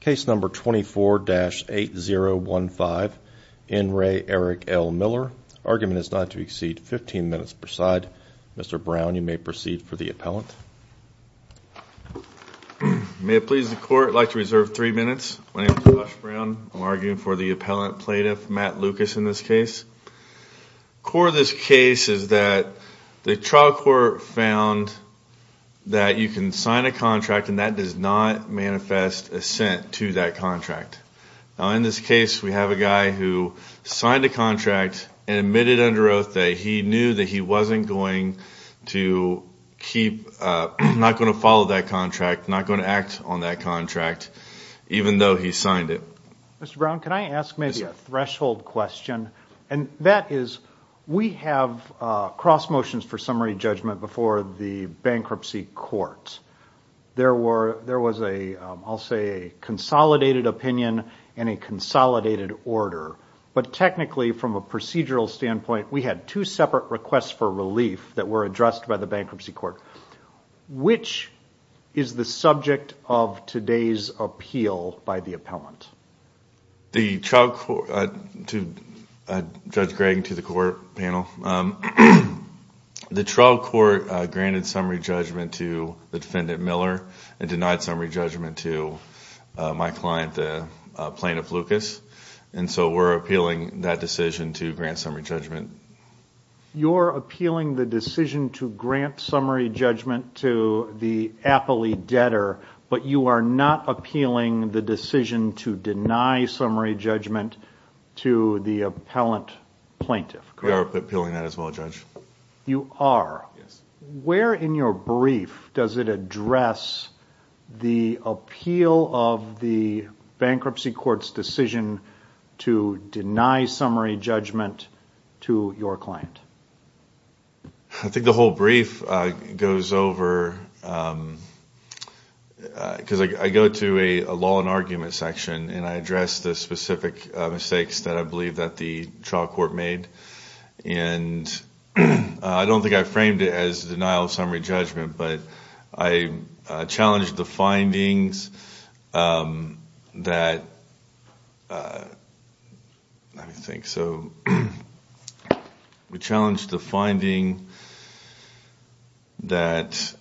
case number 24-8015 in re Eric L Miller argument is not to exceed 15 minutes per side mr. Brown you may proceed for the appellant may it please the court like to reserve three minutes I'm arguing for the appellant plaintiff Matt Lucas in this case core this case is that the trial court found that you can sign a contract and that does not manifest assent to that contract in this case we have a guy who signed a contract and admitted under oath that he knew that he wasn't going to keep not going to follow that contract not going to act on that contract even though he signed it threshold question and that is we have cross motions for summary judgment before the bankruptcy court there were there was a I'll say a consolidated opinion and a consolidated order but technically from a procedural standpoint we had two separate requests for relief that were addressed by the bankruptcy court which is the subject of today's appeal by the appellant the Chuck to judge Greg to the court panel the trial court granted summary judgment to the defendant Miller and denied summary judgment to my client plaintiff Lucas and so we're appealing that decision to grant summary judgment you're appealing the decision to grant you are not appealing the decision to deny summary judgment to the appellant plaintiff you are where in your brief does it address the appeal of the bankruptcy courts decision to deny summary judgment to your client I think the whole brief goes over because I go to a law and argument section and I address the specific mistakes that I believe that the trial court made and I don't think I framed it as denial of summary judgment but I challenged the findings that I think so we challenge the finding that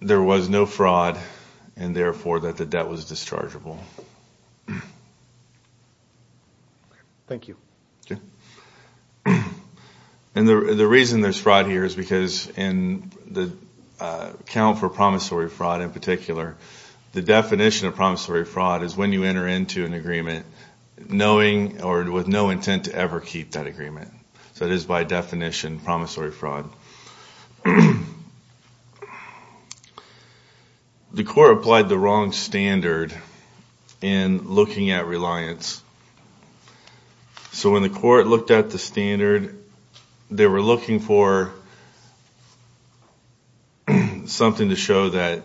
there was no fraud and therefore that the debt was dischargeable thank you and the reason there's fraud here is because in the account for promissory fraud in particular the definition of promissory fraud is when you enter into an agreement knowing or with no intent to ever keep that agreement that is by definition promissory fraud the court applied the wrong standard in looking at so when the court looked at the standard they were looking for something to show that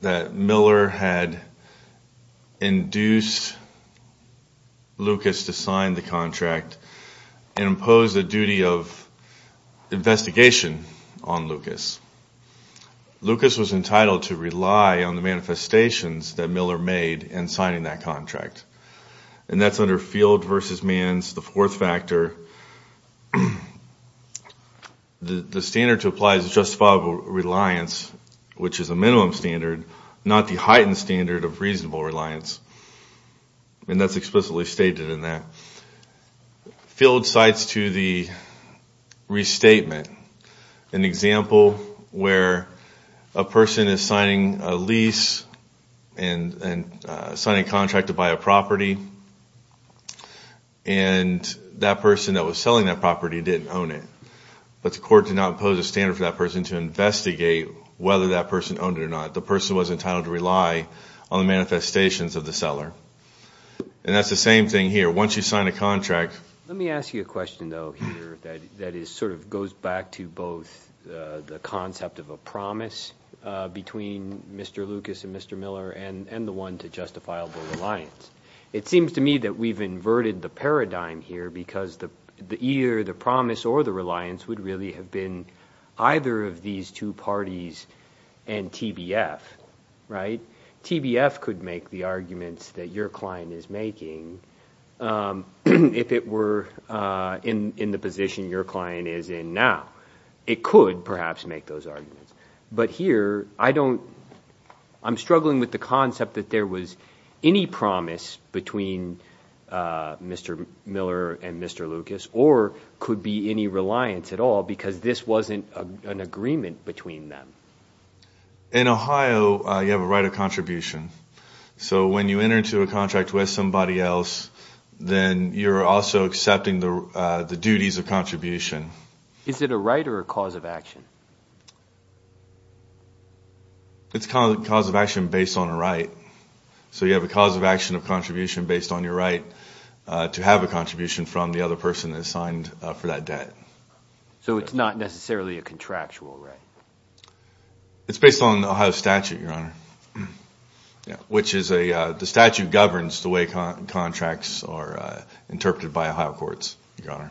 that Miller had induced Lucas to sign the contract and impose the duty of investigation on Lucas Lucas was entitled to rely on the manifestations that Miller made and signing that contract and that's under field versus man's the fourth factor the standard to apply is justifiable reliance which is a minimum standard not the heightened standard of reasonable reliance and that's explicitly stated in that field sites to the restatement an example where a person is signing a lease and signing contract to buy a property and that person that was selling that property didn't own it but the court did not pose a standard for that person to investigate whether that person owned it or not the person was entitled to rely on the manifestations of the seller and that's the same thing here once you sign a contract let me ask you a concept of a promise between mr. Lucas and mr. Miller and and the one to justifiable reliance it seems to me that we've inverted the paradigm here because the the ear the promise or the reliance would really have been either of these two parties and TBF right TBF could make the arguments that your client is making if it were in in the position your client is in now it could perhaps make those arguments but here I don't I'm struggling with the concept that there was any promise between mr. Miller and mr. Lucas or could be any reliance at all because this wasn't an agreement between them in Ohio you have a right of contribution so when you enter into a contract with somebody else then you're also accepting the duties of contribution is it a right or a cause of action it's called cause of action based on a right so you have a cause of action of contribution based on your right to have a contribution from the other person that signed for that debt so it's not necessarily a contractual right it's based on the Ohio statute your honor which is a the statute governs the way contracts are interpreted by Ohio courts your honor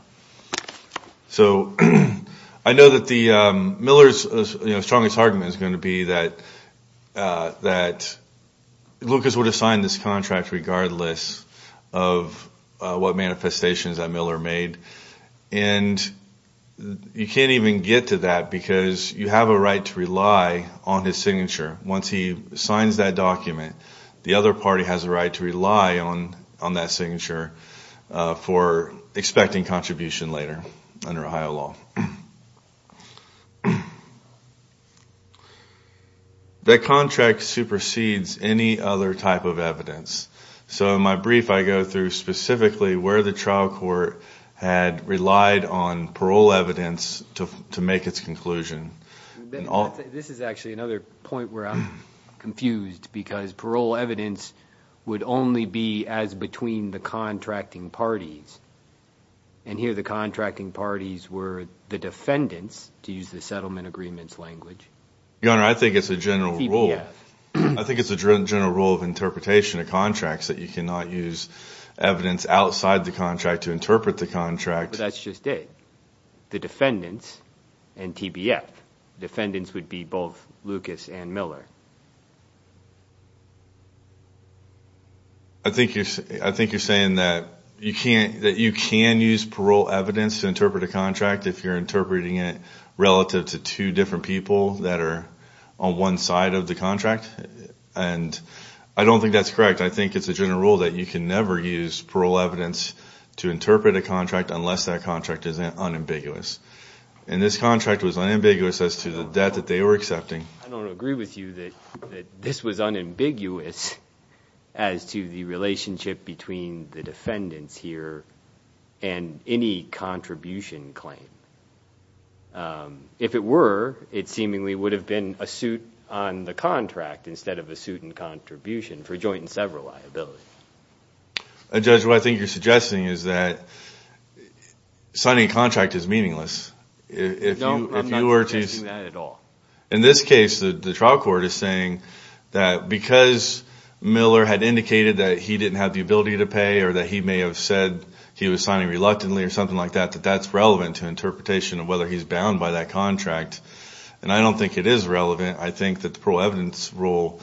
so I know that the Miller's strongest argument is going to be that that Lucas would have signed this contract regardless of what manifestations that Miller made and you can't even get to that because you have a right to rely on his signature once he signs that document the other party has a right to rely on on that signature for expecting contribution later under Ohio law that contract supersedes any other type of evidence so my brief I go through specifically where the trial court had relied on parole evidence to make its conclusion this is actually another point where I'm confused because parole evidence would only be as between the contracting parties and here the contracting parties were the defendants to use the settlement agreements language I think it's a general rule I think it's a general rule of interpretation of contracts that you cannot use evidence outside the contract to interpret the contract that's just it the defendants and TBF defendants would be both Lucas and Miller I think you're saying that you can't that you can use parole evidence to interpret a contract if you're interpreting it relative to two different people that are on one side of the contract and I don't think that's I think it's a general rule that you can never use parole evidence to interpret a contract unless that contract is unambiguous and this contract was unambiguous as to the debt that they were accepting I don't agree with you that this was unambiguous as to the relationship between the defendants here and any contribution claim if it were it seemingly would have been a suit on the contract instead of a suit and contribution for joint and several liabilities a judge what I think you're suggesting is that signing contract is meaningless in this case the trial court is saying that because Miller had indicated that he didn't have the ability to pay or that he may have said he was signing reluctantly or something like that that that's relevant to interpretation of whether he's bound by that contract and I don't think it is relevant I think that the parole evidence rule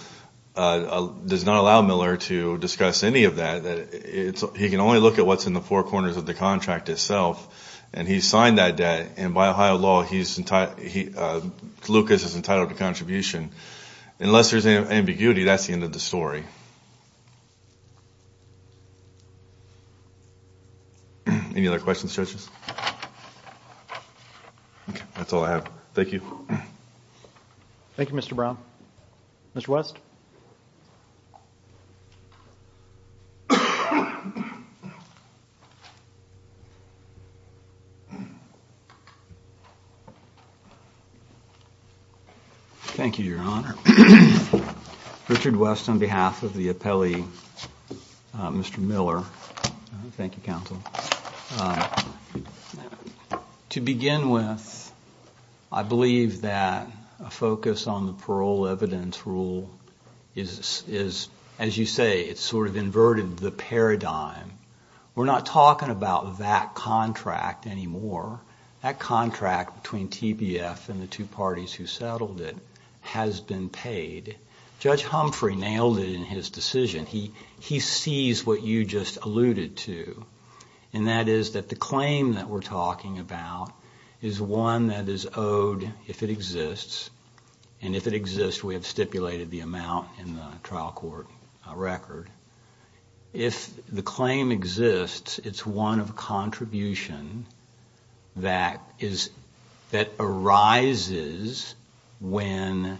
does not allow Miller to discuss any of that it's he can only look at what's in the four corners of the contract itself and he signed that debt and by Ohio law he's in tight he Lucas is entitled to contribution unless there's any ambiguity that's the end of story any other questions judges that's all I have thank you Thank You mr. Brown mr. West thank you your honor Richard West on behalf of the appellee mr. Miller Thank you counsel to begin with I believe that a focus on the parole evidence rule is is as you say it's sort of inverted the paradigm we're not talking about that contract anymore that contract between TBF and the two parties who settled it has been paid judge Humphrey nailed it in his decision he he sees what you just alluded to and that is that the claim that we're talking about is one that is owed if it exists and if it exists we have stipulated the amount in the trial court record if the claim exists it's one of contribution that is that arises when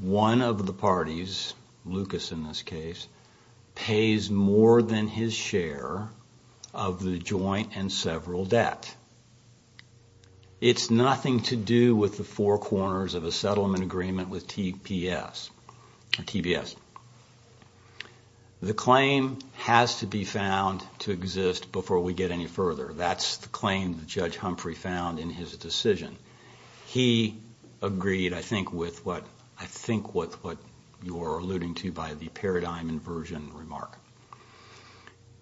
one of the parties Lucas in this case pays more than his share of the joint and several that it's nothing to do with the four corners of the settlement agreement with TPS TBS the claim has to be found to exist before we get any further that's the claim judge Humphrey found in his decision he agreed I think with what I think what what you're alluding to by the paradigm inversion remark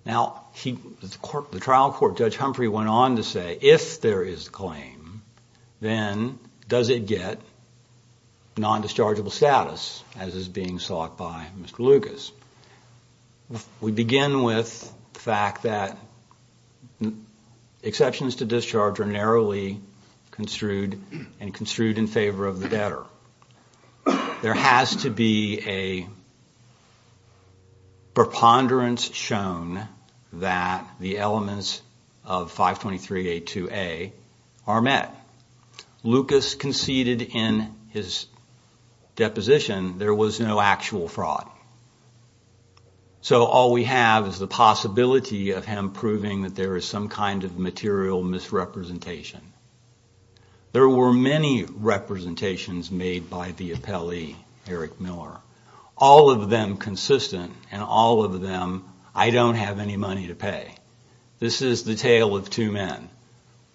now he the trial court judge Humphrey went on to say if there is claim then does it get non-dischargeable status as is being sought by mr. Lucas we begin with the fact that exceptions to discharge are narrowly construed and construed in favor of the debtor there has to be a preponderance shown that the elements of 523 a to a are met Lucas conceded in his deposition there was no actual fraud so all we have is the possibility of him proving that there is some kind of material misrepresentation there were many representations made by the appellee Eric Miller all of them consistent and all of them I don't have any money to pay this is the tale of two men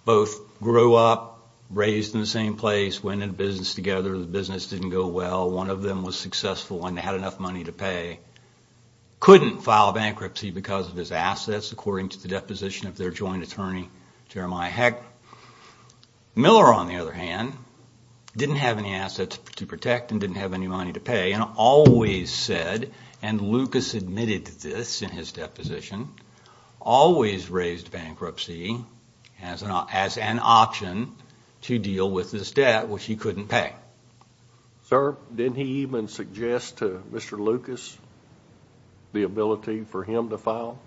both grow up raised in the same place when in business together the business didn't go well one of them was successful and had enough money to pay couldn't file bankruptcy because of his assets according to the deposition of their joint attorney Jeremiah Heck Miller on the other hand didn't have any assets to protect and didn't have any money to pay and always said and Lucas admitted to this in his deposition always raised bankruptcy as an option to deal with this debt which he couldn't pay. Sir, didn't he even suggest to Mr. Lucas the ability for him to file?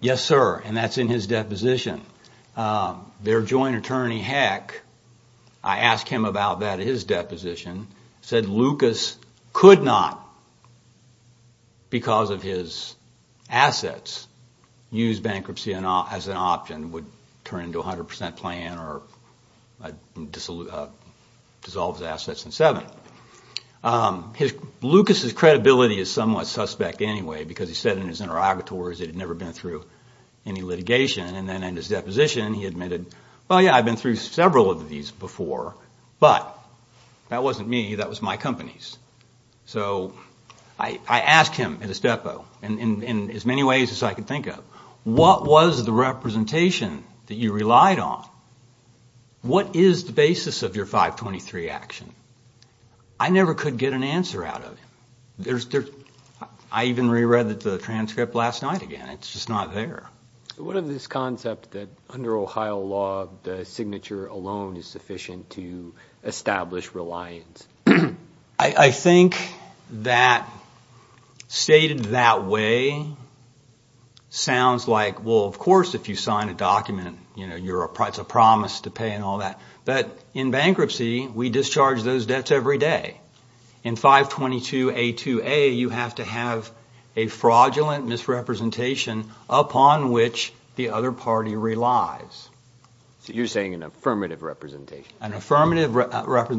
Yes sir and that's in his deposition their joint attorney Heck I asked him about that his deposition said Lucas could not because of his assets use bankruptcy as an option would turn into a hundred percent plan or dissolves assets in seven. Lucas's credibility is somewhat suspect anyway because he said in his interrogatories it had never been through any litigation and then in his deposition he admitted well yeah I've been through several of these before but that wasn't me that was my company's so I asked him in his depo and in as many ways as I could think of what was the representation that you relied on? What is the basis of your 523 action? I never could get an answer out of it. I even reread the transcript last night again it's just not there. What of this concept that under Ohio law the signature alone is sufficient to establish reliance? I think that stated that way sounds like well of course if you sign a document you know you're a price a promise to pay and all that but in bankruptcy we discharge those debts every day in 522 a2a you have to have a fraudulent misrepresentation upon which the other party relies. So you're saying an affirmative representation? An affirmative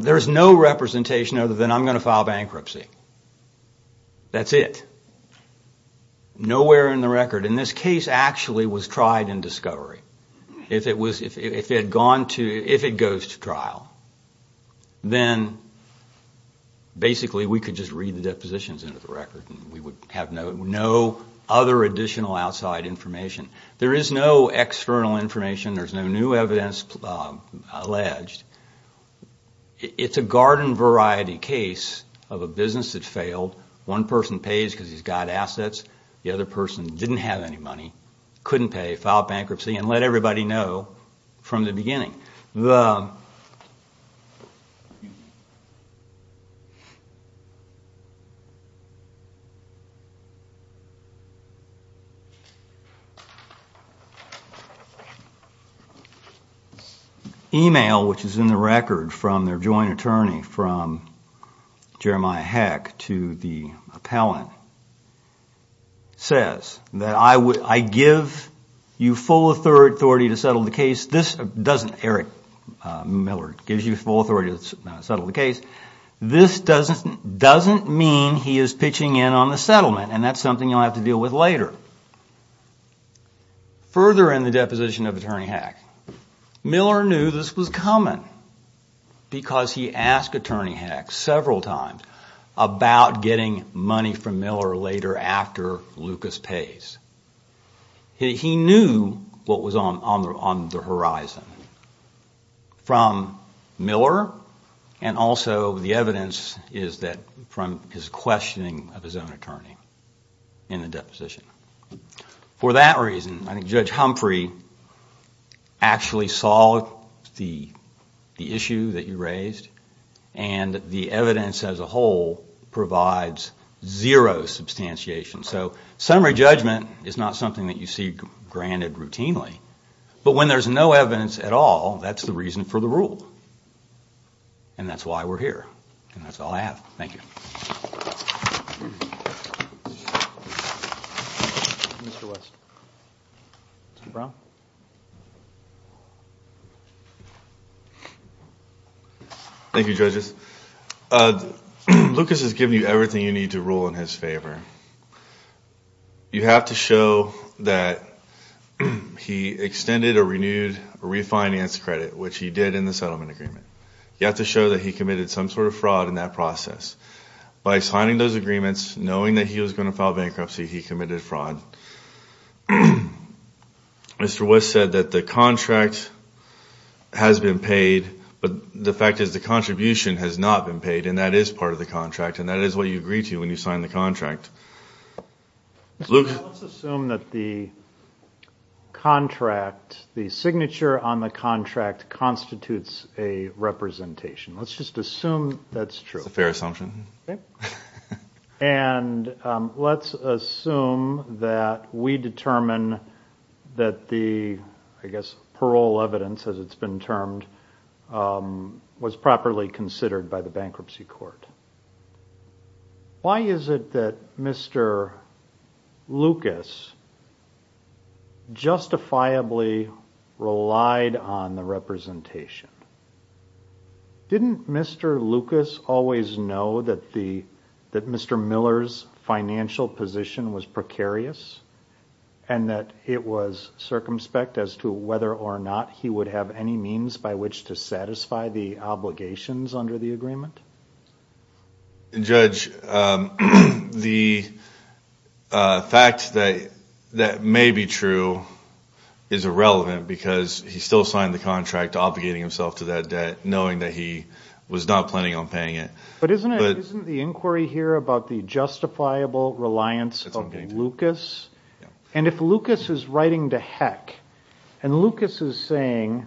there's no representation other than I'm going to file bankruptcy. That's it. Nowhere in the record in this case actually was tried in discovery. If it was if it had gone to if it goes to trial then basically we could just read the depositions into the record and we would have no other additional outside information. There is no external information there's no new evidence alleged. It's a garden variety case of a business that failed one person pays because he's got assets the other person didn't have any money couldn't pay file bankruptcy and let everybody know from the beginning. Email which is in the record from their joint attorney from Jeremiah Heck to the appellant says that I would I give you full authority to settle the case this doesn't Eric Miller gives you full authority to settle the case this doesn't doesn't mean he is pitching in on the settlement and that's something you'll have to deal with later. Further in the deposition of attorney Heck Miller knew this was coming because he asked attorney Heck several times about getting money from Miller later after Lucas pays. He knew what was on the horizon from Miller and also the evidence is that from his questioning of his own attorney in the deposition. For that reason Judge Humphrey actually saw the issue that you raised and the evidence as a whole provides zero substantiation so summary judgment is not something that you see granted routinely but when there's no evidence at all that's the reason for the rule and that's why we're here and that's all I have. Thank you. Thank You judges Lucas has given you everything you need to rule in his favor you have to show that he extended a renewed refinance credit which he did in the settlement agreement. You have to show that he committed some sort of fraud in that process by signing those agreements knowing that he was going to file bankruptcy he committed fraud. Mr. West said that the contract has been paid but the fact is the contribution has not been paid and that is part of the contract and that is what you agree to when you sign the contract. Let's assume that it's a representation. Let's just assume that's true. It's a fair assumption and let's assume that we determine that the I guess parole evidence as it's been termed was properly considered by the bankruptcy court. Why is it that Mr. Lucas justifiably relied on the representation? Didn't Mr. Lucas always know that the that Mr. Miller's financial position was precarious and that it was circumspect as to whether or not he would have any means by which to satisfy the obligations under the agreement? Judge, the fact that that may be true is irrelevant because he still signed the contract obligating himself to that debt knowing that he was not planning on paying it. But isn't the inquiry here about the justifiable reliance of Lucas and if Lucas is writing the heck and Lucas is saying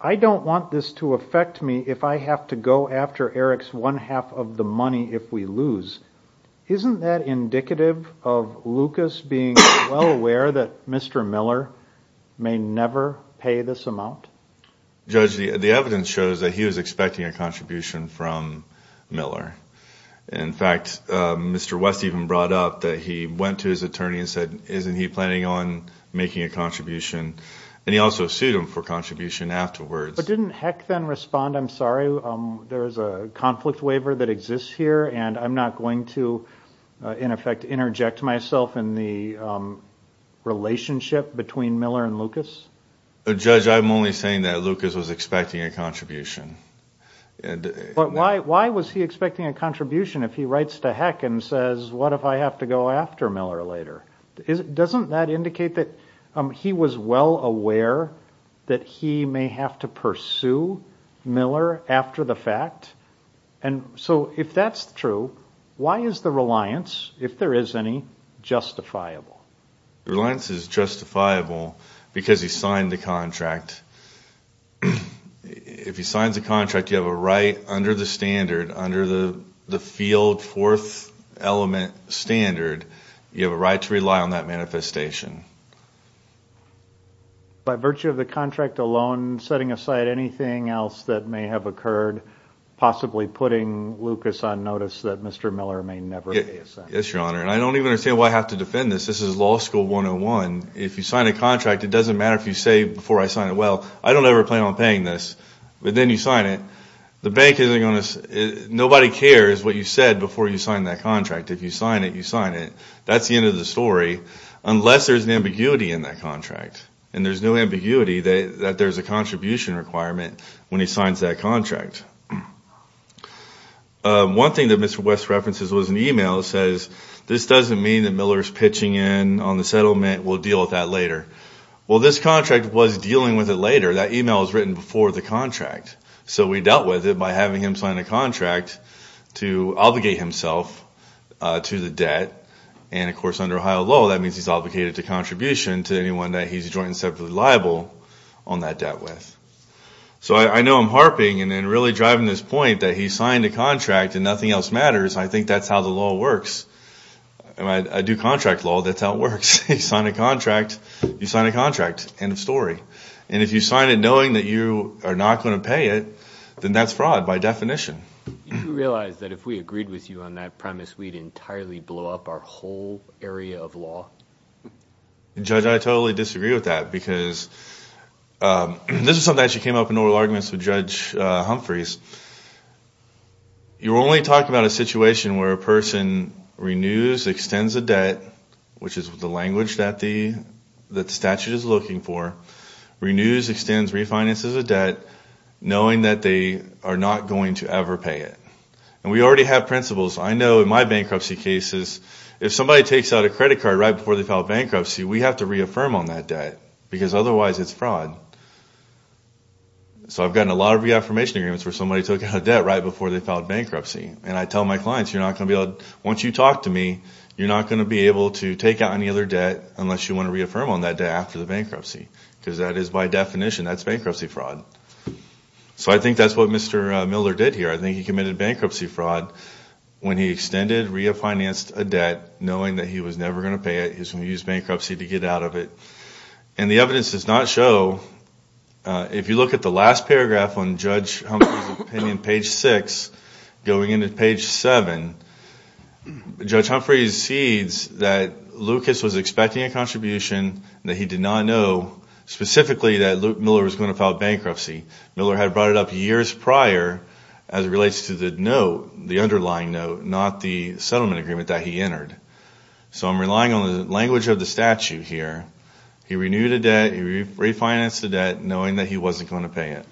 I don't want this to affect me if I have to go after Eric's one-half of the money if we lose. Isn't that indicative of Lucas being well aware that Mr. Miller may never pay this amount? Judge, the evidence shows that he was expecting a contribution from Miller. In fact, Mr. West even brought up that he went to his attorney and said isn't he planning on making a contribution and he also sued him for contribution afterwards. But didn't heck then respond I'm sorry there's a conflict waiver that exists here and I'm not going to in effect interject myself in the relationship between Miller and Lucas? Judge, I'm only saying that Lucas was expecting a contribution. Why was he expecting a contribution if he writes to heck and says what if I have to go after Miller later? Doesn't that indicate that he was well aware that he may have to pursue Miller after the fact? And so if that's true, why is the reliance, if there is any, justifiable? Reliance is justifiable because he signed the contract. If he signs a contract you have a right under the standard, under the the field fourth element standard, you have a right to rely on that manifestation. By virtue of the contract alone, setting aside anything else that may have occurred, possibly putting Lucas on notice that Mr. Miller may never pay a cent? Yes, your honor, and I don't even understand why I have to defend this. This is law school 101. If you sign a contract, it doesn't matter if you say before I sign it, well I don't ever plan on paying this, but then you sign it, the bank isn't gonna, nobody cares what you said before you sign that contract. If you sign it, you sign it. That's the end of the story, unless there's an ambiguity in that contract. And there's no ambiguity that there's a contribution requirement when he signs that contract. One thing that Mr. West references was an email that says this doesn't mean that Miller's pitching in on the settlement, we'll deal with that later. Well this contract was dealing with it later, that email was written before the contract, so we dealt with it by having him sign a contract to obligate himself to the debt. And of course under Ohio law, that means he's obligated to contribution to anyone that he's a joint and separate liable on that debt with. So I know I'm harping and then really driving this point that he signed a contract and nothing else matters. I think that's how the law works. I do contract law, that's how it works. You sign a contract, you sign a contract. End of story. And if you sign it knowing that you are not going to pay it, then that's fraud by definition. Do you realize that if we agreed with you on that premise, we'd entirely blow up our whole area of law? Judge, I totally disagree with that because this is something that actually came up in oral arguments with Judge Humphreys. You only talk about a situation where a person renews, extends a debt, which is what the language that the statute is looking for. Renews, extends, refinances a debt knowing that they are not going to ever pay it. And we already have principles. I know in my bankruptcy cases, if somebody takes out a credit card right before they file bankruptcy, we have to reaffirm on that debt because otherwise it's fraud. So I've gotten a lot of reaffirmation agreements where somebody took out a debt right before they filed bankruptcy. And I tell my clients, you're not going to be able, once you talk to me, you're not going to be able to take out any other debt unless you want to reaffirm on that debt after the bankruptcy. Because that is by definition, that's bankruptcy fraud. So I think that's what Mr. Miller did here. I think he committed bankruptcy fraud when he extended, refinanced a debt, knowing that he was never going to pay it. He was going to use bankruptcy to get out of it. And the evidence does not show, if you look at the last paragraph on Judge Humphrey's opinion, page 6, going into page 7, Judge Humphrey's sees that Lucas was expecting a contribution that he did not know specifically that Miller was going to file bankruptcy. Miller had brought it up years prior as it relates to the note, the underlying note, not the settlement agreement that he entered. So I'm relying on the language of the statute here. He renewed a debt, he refinanced the debt, knowing that he wasn't going to pay it.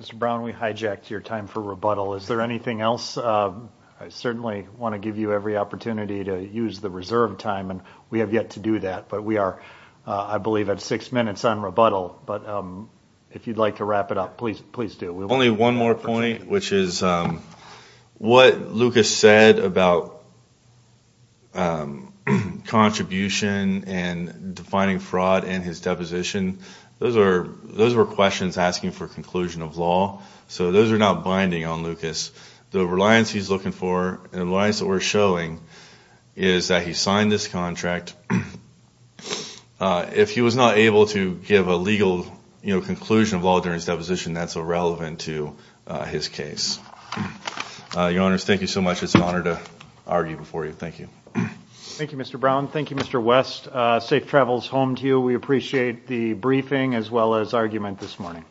Mr. Brown, we hijacked your time for rebuttal. Is there anything else? I certainly want to give you every opportunity to use the reserved time, and we have yet to do that. But we are, I believe, at six minutes on rebuttal. But if you'd like to wrap it up, please do. Only one more point, which is what Lucas said about contribution and defining fraud in his deposition, those were questions asking for conclusion of law. So those are not binding on Lucas. The reliance he's looking for, the reliance that we're showing, is that he signed this contract. If he was not able to give a legal, you know, conclusion of law during his deposition, that's irrelevant to his case. Your Honors, thank you so much. It's an honor to argue before you. Thank you. Thank you, Mr. Brown. Thank you, Mr. West. Safe travels home to you. We appreciate the briefing as well as argument this morning.